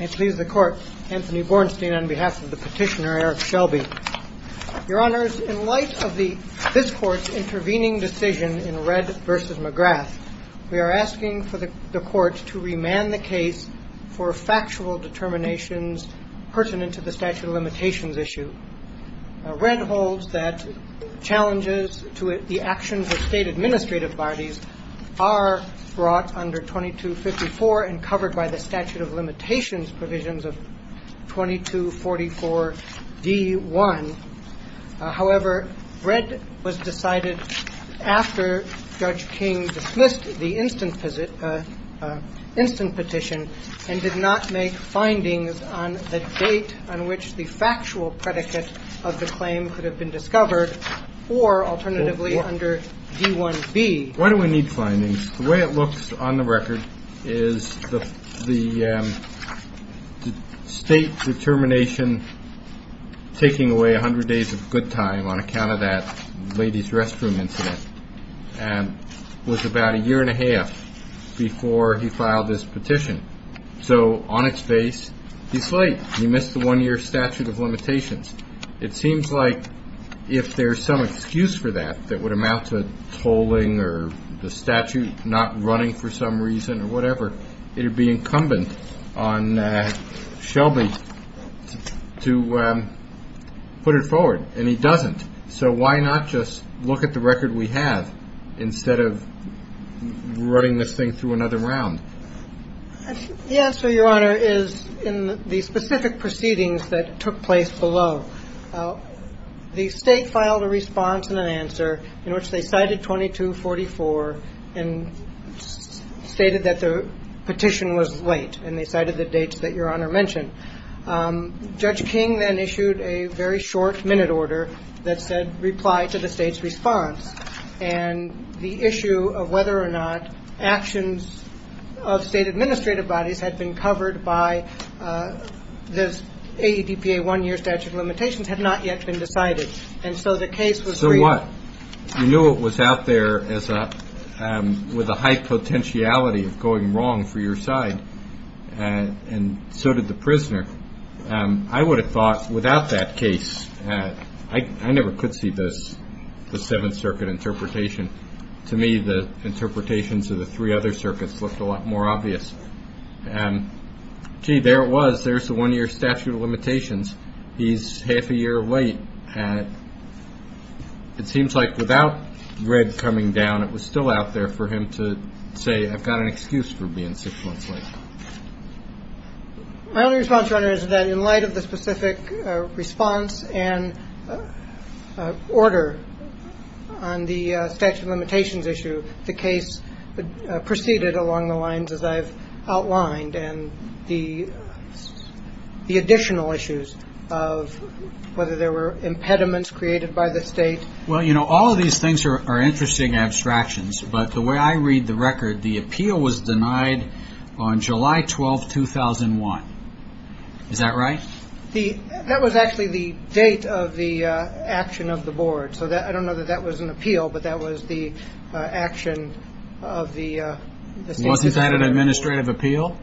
and please the court, Anthony Bornstein on behalf of the petitioner, Eric Shelby. Your honors, in light of this court's intervening decision in Red v. McGrath, we are asking for the court to remand the case for factual determinations pertinent to the statute of limitations issue. Red holds that challenges to the actions of state administrative parties are brought under 2254 and covered by the statute of limitations provisions of 2244 D1. However, Red was decided after Judge King dismissed the instant petition and did not make findings on the date on which the factual predicate of the claim could have been discovered or alternatively under D1B. Why do we need findings? The way it looks on the record is the state determination taking away 100 days of good time on account of that lady's restroom incident was about a year and a half before he filed his petition. So on its face, he's late. He missed the one year statute of limitations. It seems like if there's some excuse for that that would amount to tolling or the statute not running for some reason or whatever, it would be incumbent on Shelby to put it forward and he doesn't. So why not just look at the record we have instead of running this thing through another round? The answer, Your Honor, is in the specific proceedings that took place below. The state filed a response and an answer in which they cited 2244 and stated that the petition was late and they cited the dates that Your Honor mentioned. Judge King then issued a very short minute order that said reply to the state's response and the issue of whether or not actions of state administrative bodies had been covered by the ADPA one year statute of limitations had not yet been decided. And so the case was. So what? You knew it was out there as a with a high potentiality of going wrong for your side and so did the prisoner. I would have thought without that case, I never could see this the Seventh Circuit interpretation. To me, the interpretations of the three other circuits looked a lot more obvious and gee, there it was. There's the one year statute of limitations. He's half a year late and it seems like without red coming down, it was still out there for him to say, I've got an excuse for being six months late. My only response, Your Honor, is that in light of the specific response and order on the statute of limitations issue, the case proceeded along the lines as I've outlined and the additional issues of whether there were impediments created by the state. Well, you know, all of these things are interesting abstractions, but the way I read the record, the appeal was denied on July 12th, 2001. Is that right? That was actually the date of the action of the board. I don't know that that was an appeal, but that was the action of the state. Wasn't that an administrative appeal?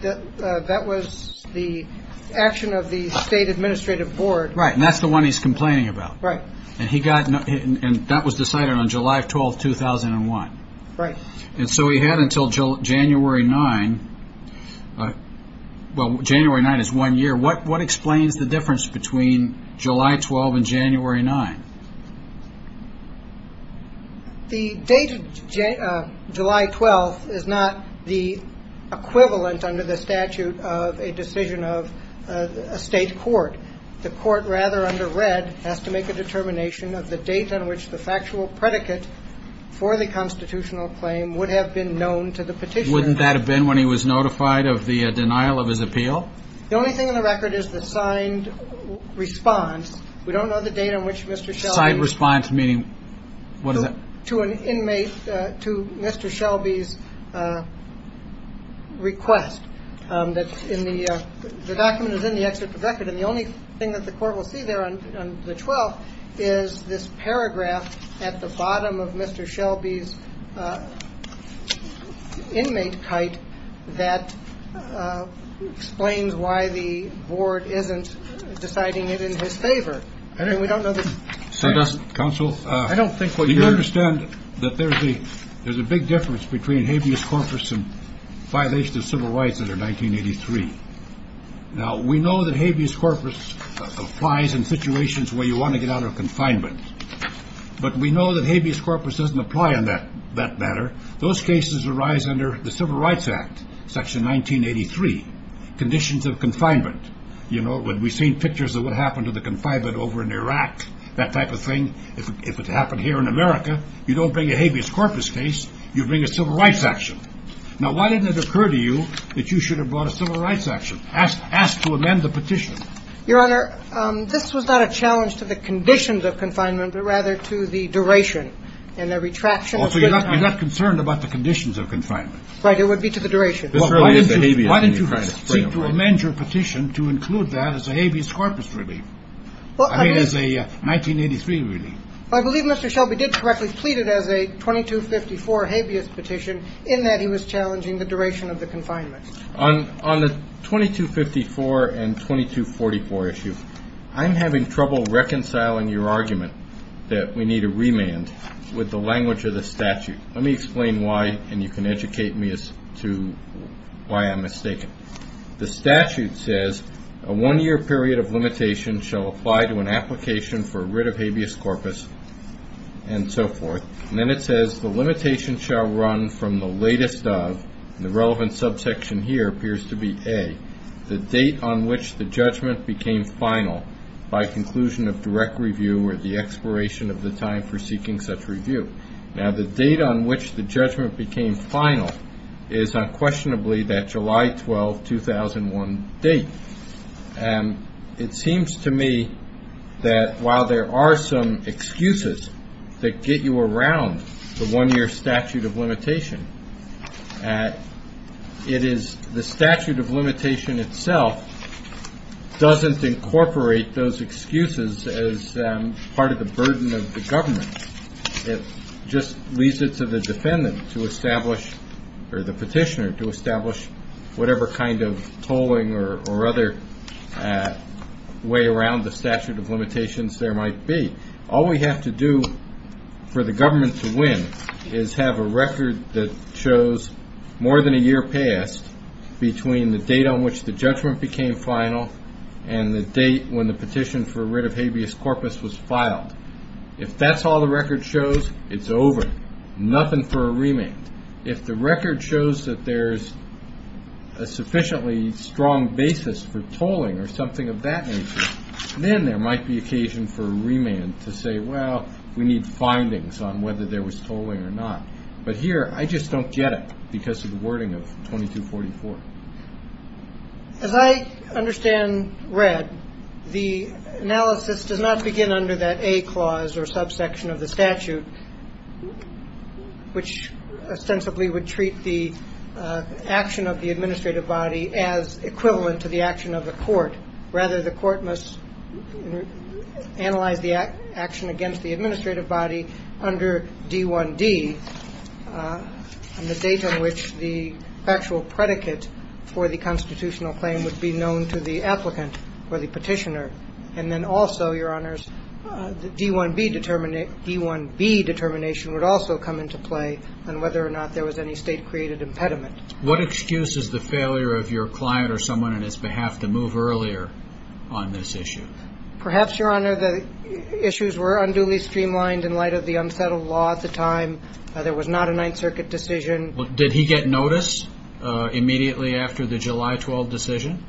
That was the action of the state administrative board. Right, and that's the one he's complaining about. Right. And that was decided on July 12th, 2001. Right. And so he had until January 9th. Well, January 9th is one year. What explains the difference between July 12th and January 9th? The date of July 12th is not the equivalent under the statute of a decision of a state court. The court, rather under red, has to make a determination of the date on which the factual predicate for the constitutional claim would have been known to the petitioner. Wouldn't that have been when he was notified of the denial of his appeal? The only thing in the record is the signed response. We don't know the date on which Mr. Shelby's. Signed response meaning, what is that? To an inmate, to Mr. Shelby's request. The document is in the excerpt of the record, and the only thing that the court will see there on the 12th is this paragraph at the bottom of Mr. Shelby's inmate kite that explains why the board isn't deciding it in his favor. I mean, we don't know the. So does counsel. I don't think what you understand that there's a there's a big difference between habeas corpus and violation of civil rights under 1983. Now, we know that habeas corpus applies in situations where you want to get out of confinement, but we know that habeas corpus doesn't apply in that that matter. Those cases arise under the Civil Rights Act, Section 1983, conditions of confinement. You know, when we've seen pictures of what happened to the confinement over in Iraq, that type of thing. If it happened here in America, you don't bring a habeas corpus case. You bring a civil rights action. Now, why didn't it occur to you that you should have brought a civil rights action asked to amend the petition? Your Honor, this was not a challenge to the conditions of confinement, but rather to the duration and the retraction. So you're not concerned about the conditions of confinement. Right. It would be to the duration. This early in the habeas. Why didn't you try to amend your petition to include that as a habeas corpus relief? Well, I mean, it is a 1983 relief. I believe Mr. Shelby did correctly pleaded as a 2254 habeas petition in that he was challenging the duration of the confinement on on the 2254 and 2244 issue. I'm having trouble reconciling your argument that we need a remand with the language of the statute. Let me explain why. And you can educate me as to why I'm mistaken. The statute says a one year period of limitation shall apply to an application for a writ of habeas corpus and so forth. And then it says the limitation shall run from the latest of the relevant subsection. Here appears to be a the date on which the judgment became final by conclusion of direct review or the expiration of the time for seeking such review. Now, the date on which the judgment became final is unquestionably that July 12th, 2001 date. And it seems to me that while there are some excuses that get you around the one year statute of limitation, it is the statute of limitation itself doesn't incorporate those excuses as part of the burden of the government. It just leaves it to the defendant to establish or the petitioner to establish whatever kind of tolling or other way around the statute of limitations there might be. All we have to do for the government to win is have a record that shows more than a year passed between the date on which the judgment became final and the date when the petition for writ of habeas corpus was filed. If that's all the record shows, it's over. Nothing for a remand. If the record shows that there's a sufficiently strong basis for tolling or something of that nature, then there might be occasion for a remand to say, well, we need findings on whether there was tolling or not. But here I just don't get it because of the wording of 2244. As I understand, read the analysis does not begin under that a clause or subsection of the statute, which ostensibly would treat the action of the administrative body as equivalent to the action of the court. Rather, the court must analyze the action against the administrative body under D1D. And the date on which the actual predicate for the constitutional claim would be known to the applicant or the petitioner. And then also, Your Honors, the D1B determination would also come into play on whether or not there was any state created impediment. What excuse is the failure of your client or someone on his behalf to move earlier on this issue? Perhaps, Your Honor, the issues were unduly streamlined in light of the unsettled law at the time. There was not a Ninth Circuit decision. Did he get notice immediately after the July 12 decision?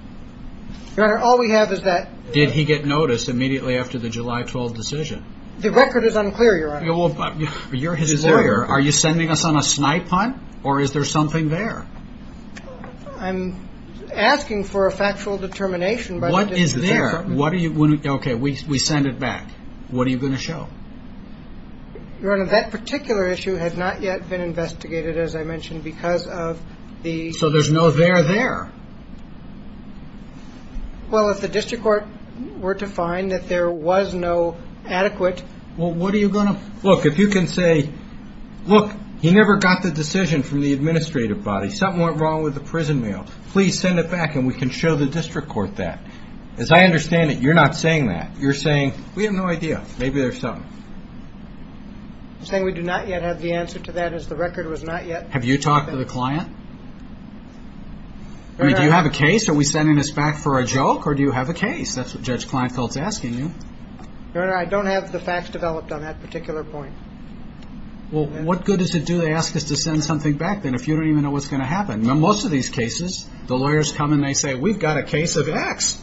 Your Honor, all we have is that. Did he get notice immediately after the July 12 decision? The record is unclear, Your Honor. You're his lawyer. Are you sending us on a snipe hunt or is there something there? I'm asking for a factual determination. What is there? What are you... Okay, we send it back. What are you going to show? Your Honor, that particular issue has not yet been investigated, as I mentioned, because of the... So there's no there there. Well, if the district court were to find that there was no adequate... Well, what are you going to... Look, if you can say, look, he never got the decision from the administrative body. Something went wrong with the prison mail. Please send it back and we can show the district court that. As I understand it, you're not saying that. You're saying, we have no idea. Maybe there's something. You're saying we do not yet have the answer to that as the record was not yet... Have you talked to the client? I mean, do you have a case? Are we sending this back for a joke or do you have a case? That's what Judge Kleinfeld's asking you. Your Honor, I don't have the facts developed on that particular point. Well, what good does it do to ask us to send something back then if you don't even know what's going to happen? In most of these cases, the lawyers come and they say, we've got a case of X.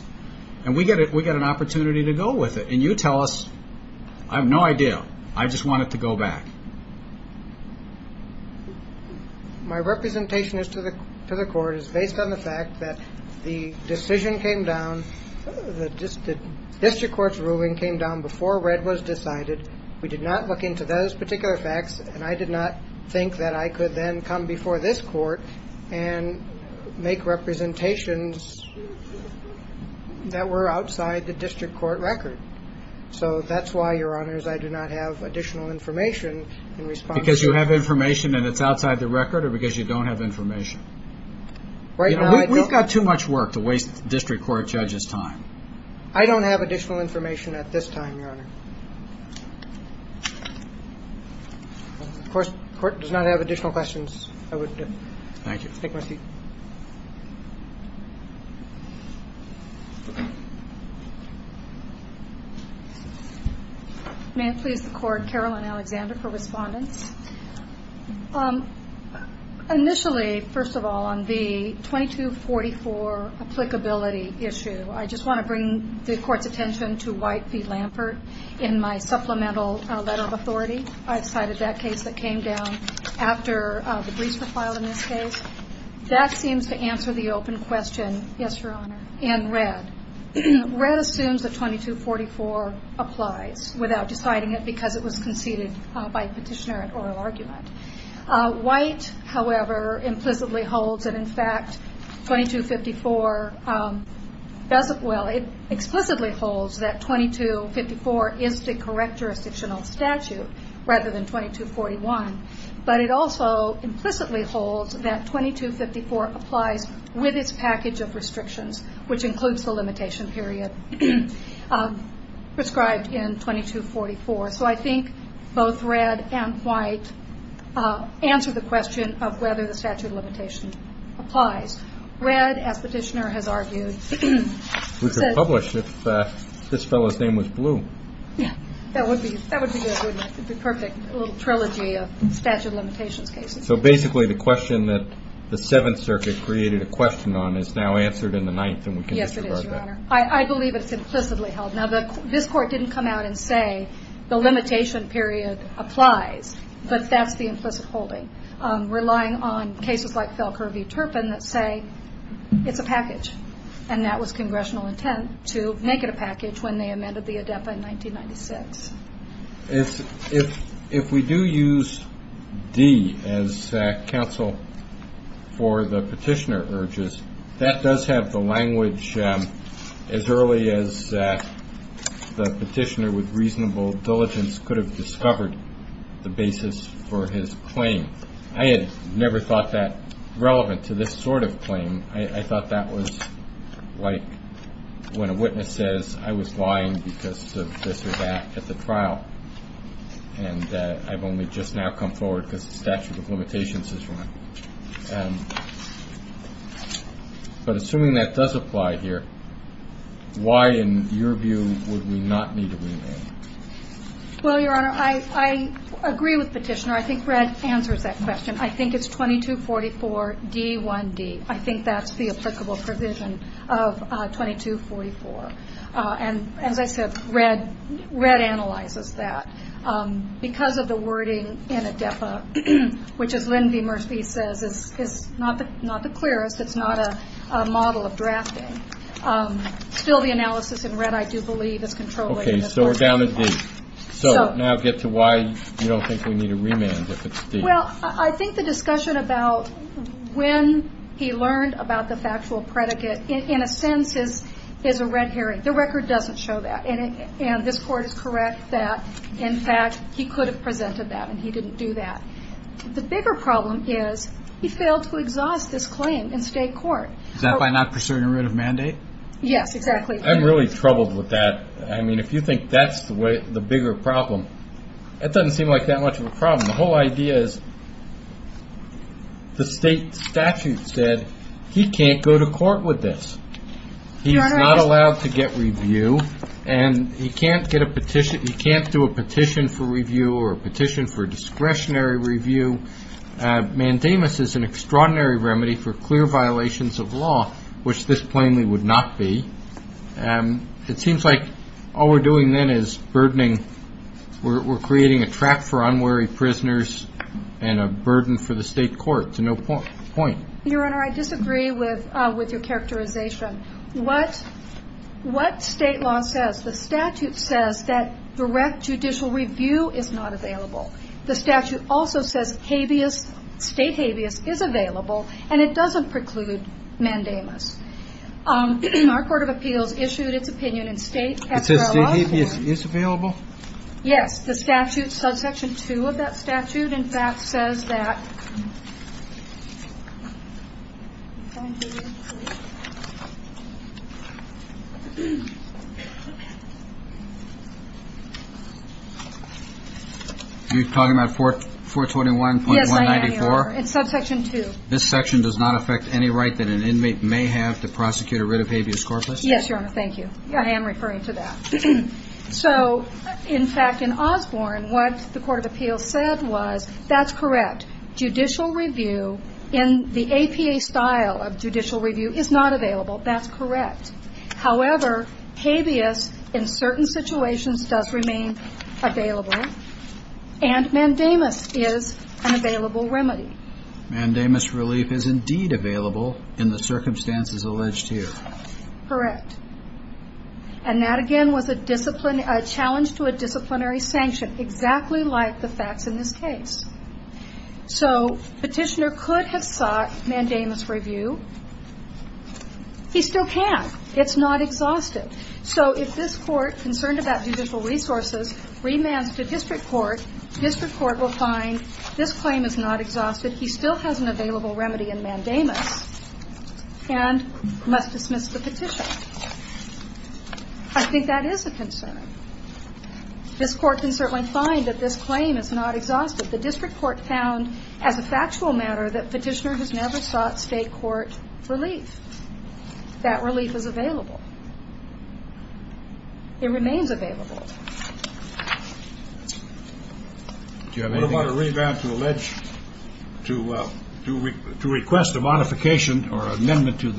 And we get an opportunity to go with it. And you tell us, I have no idea. I just want it to go back. My representation to the court is based on the fact that the decision came down, the district court's ruling came down before red was decided. We did not look into those particular facts, and I did not think that I could then come before this court and make representations that were outside the district court record. So that's why, Your Honors, I do not have additional information in response to... Because you have information and it's outside the record or because you don't have information? Right now, I don't... We've got too much work to waste the district court judge's time. I don't have additional information at this time, Your Honor. Of course, the court does not have additional questions. I would... Thank you. Take my seat. May it please the court, Carolyn Alexander for respondents. Initially, first of all, on the 2244 applicability issue, I just want to bring the court's attention to White v. Lampert in my supplemental letter of authority. I've cited that case that came down after the briefs were filed in this case. That seems to answer the open question... Yes, Your Honor. ...in red. Red assumes that 2244 applies without deciding it because it was conceded by the petitioner at oral argument. White, however, implicitly holds that, in fact, 2254 doesn't... rather than 2241. But it also implicitly holds that 2254 applies with its package of restrictions, which includes the limitation period prescribed in 2244. So I think both red and white answer the question of whether the statute of limitation applies. Red, as the petitioner has argued, says... We could publish it if this fellow's name was blue. Yeah, that would be good, wouldn't it? The perfect little trilogy of statute of limitations cases. So basically, the question that the Seventh Circuit created a question on is now answered in the Ninth and we can disregard that. Yes, it is, Your Honor. I believe it's implicitly held. Now, this court didn't come out and say the limitation period applies, but that's the implicit holding. Relying on cases like Felker v. Turpin that say it's a package. And that was congressional intent to make it a package when they amended the ADEPA in 1996. If we do use D as counsel for the petitioner urges, that does have the language as early as the petitioner with reasonable diligence could have discovered the basis for his claim. I had never thought that relevant to this sort of claim. I thought that was like when a witness says, I was lying because of this or that at the trial. And I've only just now come forward because the statute of limitations is wrong. But assuming that does apply here, why, in your view, would we not need a remand? Well, Your Honor, I agree with the petitioner. I think Red answers that question. I think it's 2244D1D. I think that's the applicable provision of 2244. And as I said, Red analyzes that. Because of the wording in ADEPA, which, as Lynn V. Murphy says, is not the clearest. It's not a model of drafting. Still, the analysis in Red, I do believe, is controlling. Okay, so we're down to D. So now get to why you don't think we need a remand if it's D. Well, I think the discussion about when he learned about the factual predicate, in a sense, is a red herring. The record doesn't show that. And this Court is correct that, in fact, he could have presented that, and he didn't do that. The bigger problem is he failed to exhaust this claim in state court. Is that by not pursuing a writ of mandate? Yes, exactly. I'm really troubled with that. I mean, if you think that's the bigger problem, that doesn't seem like that much of a problem. The whole idea is the state statute said he can't go to court with this. He's not allowed to get review, and he can't do a petition for review or a petition for discretionary review. Mandamus is an extraordinary remedy for clear violations of law, which this plainly would not be. It seems like all we're doing then is burdening. We're creating a trap for unwary prisoners and a burden for the state court to no point. Your Honor, I disagree with your characterization. What state law says? The statute says that direct judicial review is not available. The statute also says habeas, state habeas, is available, and it doesn't preclude mandamus. Our court of appeals issued its opinion in state. It says state habeas is available? Yes. The statute, subsection 2 of that statute, in fact, says that. You're talking about 421.194? Yes, I am, Your Honor. It's subsection 2. This section does not affect any right that an inmate may have to prosecute a writ of habeas corpus? Yes, Your Honor. Thank you. I am referring to that. So, in fact, in Osborne, what the court of appeals said was, that's correct. Judicial review in the APA style of judicial review is not available. That's correct. However, habeas in certain situations does remain available, and mandamus is an available remedy. Mandamus relief is indeed available in the circumstances alleged here. Correct. And that, again, was a challenge to a disciplinary sanction, exactly like the facts in this case. So, petitioner could have sought mandamus review. He still can't. It's not exhaustive. So, if this court, concerned about judicial resources, remands to district court, district court will find this claim is not exhaustive, he still has an available remedy in mandamus, and must dismiss the petition. I think that is a concern. This court can certainly find that this claim is not exhaustive. The district court found, as a factual matter, that petitioner has never sought state court relief. That relief is available. It remains available. Do you have anything? What about a revamp to allege, to request a modification or amendment to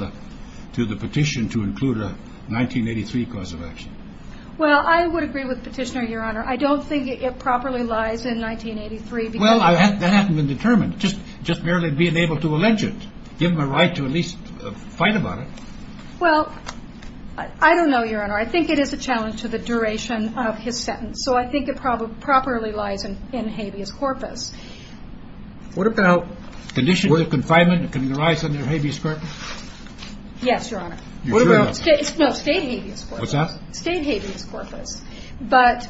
the petition to include a 1983 cause of action? Well, I would agree with petitioner, Your Honor. I don't think it properly lies in 1983. Well, that hasn't been determined, just merely being able to allege it. Well, I don't know, Your Honor. I think it is a challenge to the duration of his sentence. So, I think it probably lies in habeas corpus. What about condition of confinement? Can it arise under habeas corpus? Yes, Your Honor. State habeas corpus. What's that? State habeas corpus. But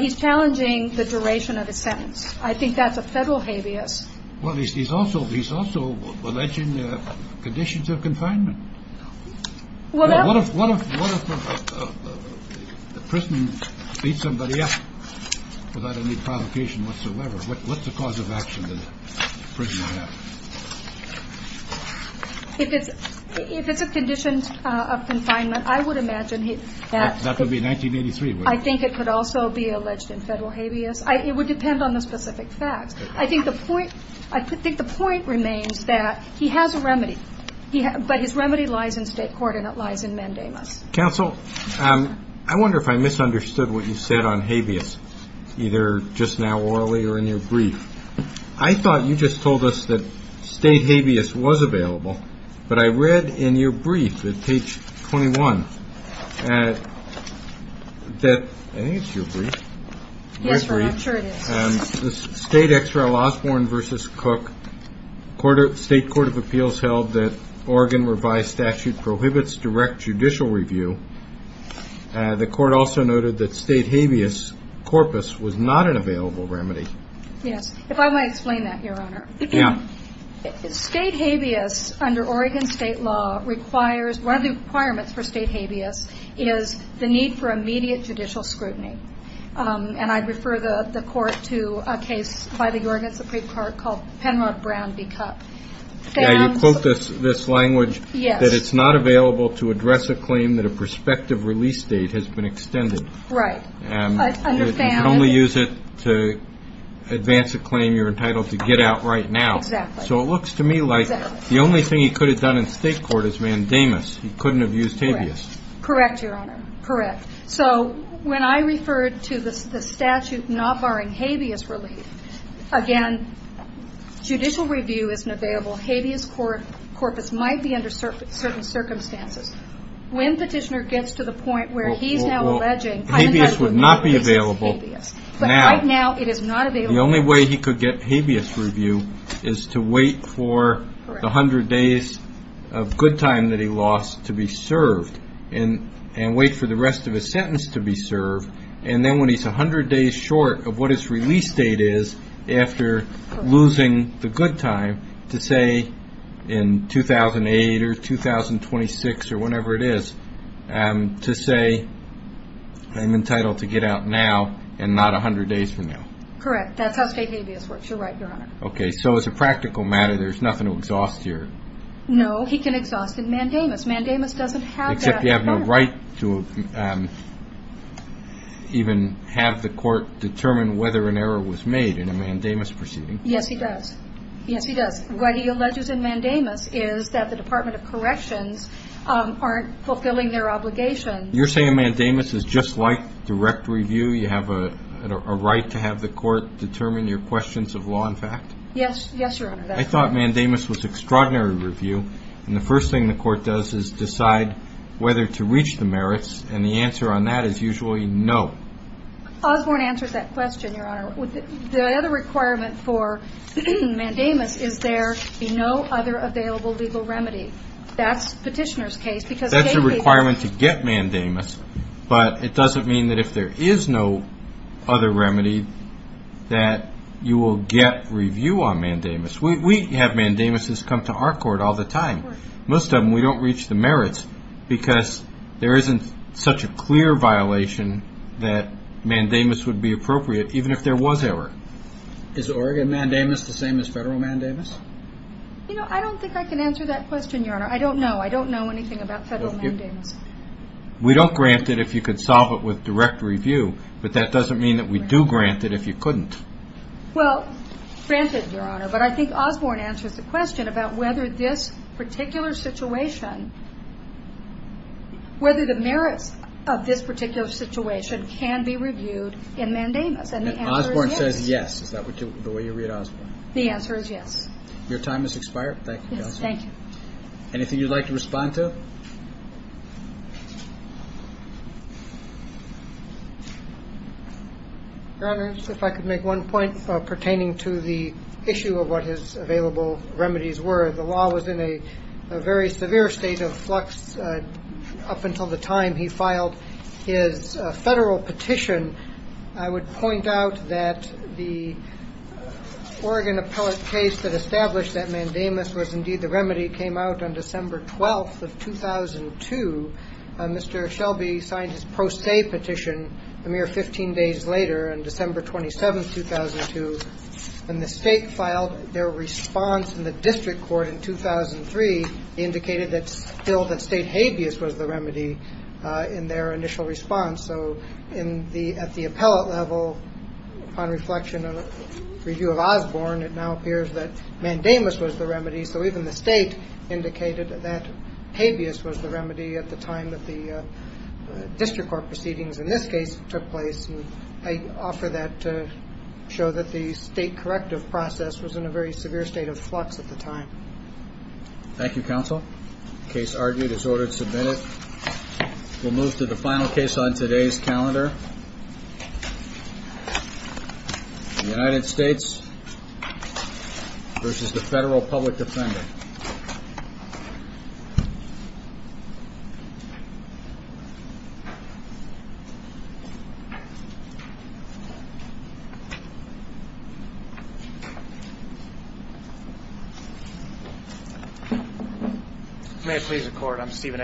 he's challenging the duration of his sentence. I think that's a federal habeas. Well, he's also alleging conditions of confinement. What if a prisoner beats somebody up without any provocation whatsoever? What's the cause of action that the prisoner has? If it's a condition of confinement, I would imagine that. That would be 1983, wouldn't it? I think it could also be alleged in federal habeas. It would depend on the specific facts. I think the point remains that he has a remedy, but his remedy lies in state court and it lies in mandamus. Counsel, I wonder if I misunderstood what you said on habeas, either just now or earlier in your brief. I thought you just told us that state habeas was available, but I read in your brief at page 21 that – I think it's your brief. Yes, Your Honor, I'm sure it is. The State Extra Laws Warren v. Cook State Court of Appeals held that Oregon revised statute prohibits direct judicial review. The court also noted that state habeas corpus was not an available remedy. Yes. If I might explain that, Your Honor. Yeah. State habeas under Oregon state law requires – one of the requirements for state habeas is the need for immediate judicial scrutiny. And I refer the court to a case by the Oregon Supreme Court called Penrod Brown v. Cook. Yeah, you quote this language that it's not available to address a claim that a prospective release date has been extended. Right. I understand. You can only use it to advance a claim you're entitled to get out right now. Exactly. So it looks to me like the only thing he could have done in state court is mandamus. He couldn't have used habeas. Correct, Your Honor. Correct. So when I referred to the statute not barring habeas relief, again, judicial review isn't available. Habeas corpus might be under certain circumstances. When Petitioner gets to the point where he's now alleging – Well, habeas would not be available now. But right now it is not available. The only way he could get habeas review is to wait for the hundred days of good time that he lost to be served and wait for the rest of his sentence to be served, and then when he's a hundred days short of what his release date is after losing the good time, to say in 2008 or 2026 or whenever it is, to say I'm entitled to get out now and not a hundred days from now. Correct. That's how state habeas works. You're right, Your Honor. Okay. So as a practical matter, there's nothing to exhaust here. No. He can exhaust in mandamus. Mandamus doesn't have that power. Except you have no right to even have the court determine whether an error was made in a mandamus proceeding. Yes, he does. Yes, he does. What he alleges in mandamus is that the Department of Corrections aren't fulfilling their obligations. You're saying a mandamus is just like direct review? You have a right to have the court determine your questions of law and fact? Yes, Your Honor. I thought mandamus was extraordinary review. And the first thing the court does is decide whether to reach the merits. And the answer on that is usually no. Osborne answered that question, Your Honor. The other requirement for mandamus is there be no other available legal remedy. That's petitioner's case because state habeas. That's a requirement to get mandamus, but it doesn't mean that if there is no other remedy that you will get review on mandamus. We have mandamuses come to our court all the time. Most of them we don't reach the merits because there isn't such a clear violation that mandamus would be appropriate, even if there was error. Is Oregon mandamus the same as federal mandamus? You know, I don't think I can answer that question, Your Honor. I don't know. I don't know anything about federal mandamus. We don't grant it if you could solve it with direct review, but that doesn't mean that we do grant it if you couldn't. Well, granted, Your Honor, but I think Osborne answers the question about whether this particular situation, whether the merits of this particular situation can be reviewed in mandamus. And the answer is yes. And Osborne says yes. Is that the way you read Osborne? The answer is yes. Your time has expired. Thank you. Thank you. Anything you'd like to respond to? Your Honor, if I could make one point pertaining to the issue of what his available remedies were. The law was in a very severe state of flux up until the time he filed his federal petition. I would point out that the Oregon appellate case that established that mandamus was indeed the remedy came out on December 12th of 2011. In 2002, Mr. Shelby signed his pro se petition a mere 15 days later on December 27th, 2002. And the state filed their response in the district court in 2003, indicated that still that state habeas was the remedy in their initial response. So at the appellate level, upon reflection of a review of Osborne, it now appears that mandamus was the remedy. So even the state indicated that habeas was the remedy at the time that the district court proceedings in this case took place. And I offer that to show that the state corrective process was in a very severe state of flux at the time. Thank you, counsel. Case argued is ordered submitted. We'll move to the final case on today's calendar. The United States versus the federal public defender. May it please the court, I'm Stephen Edwards.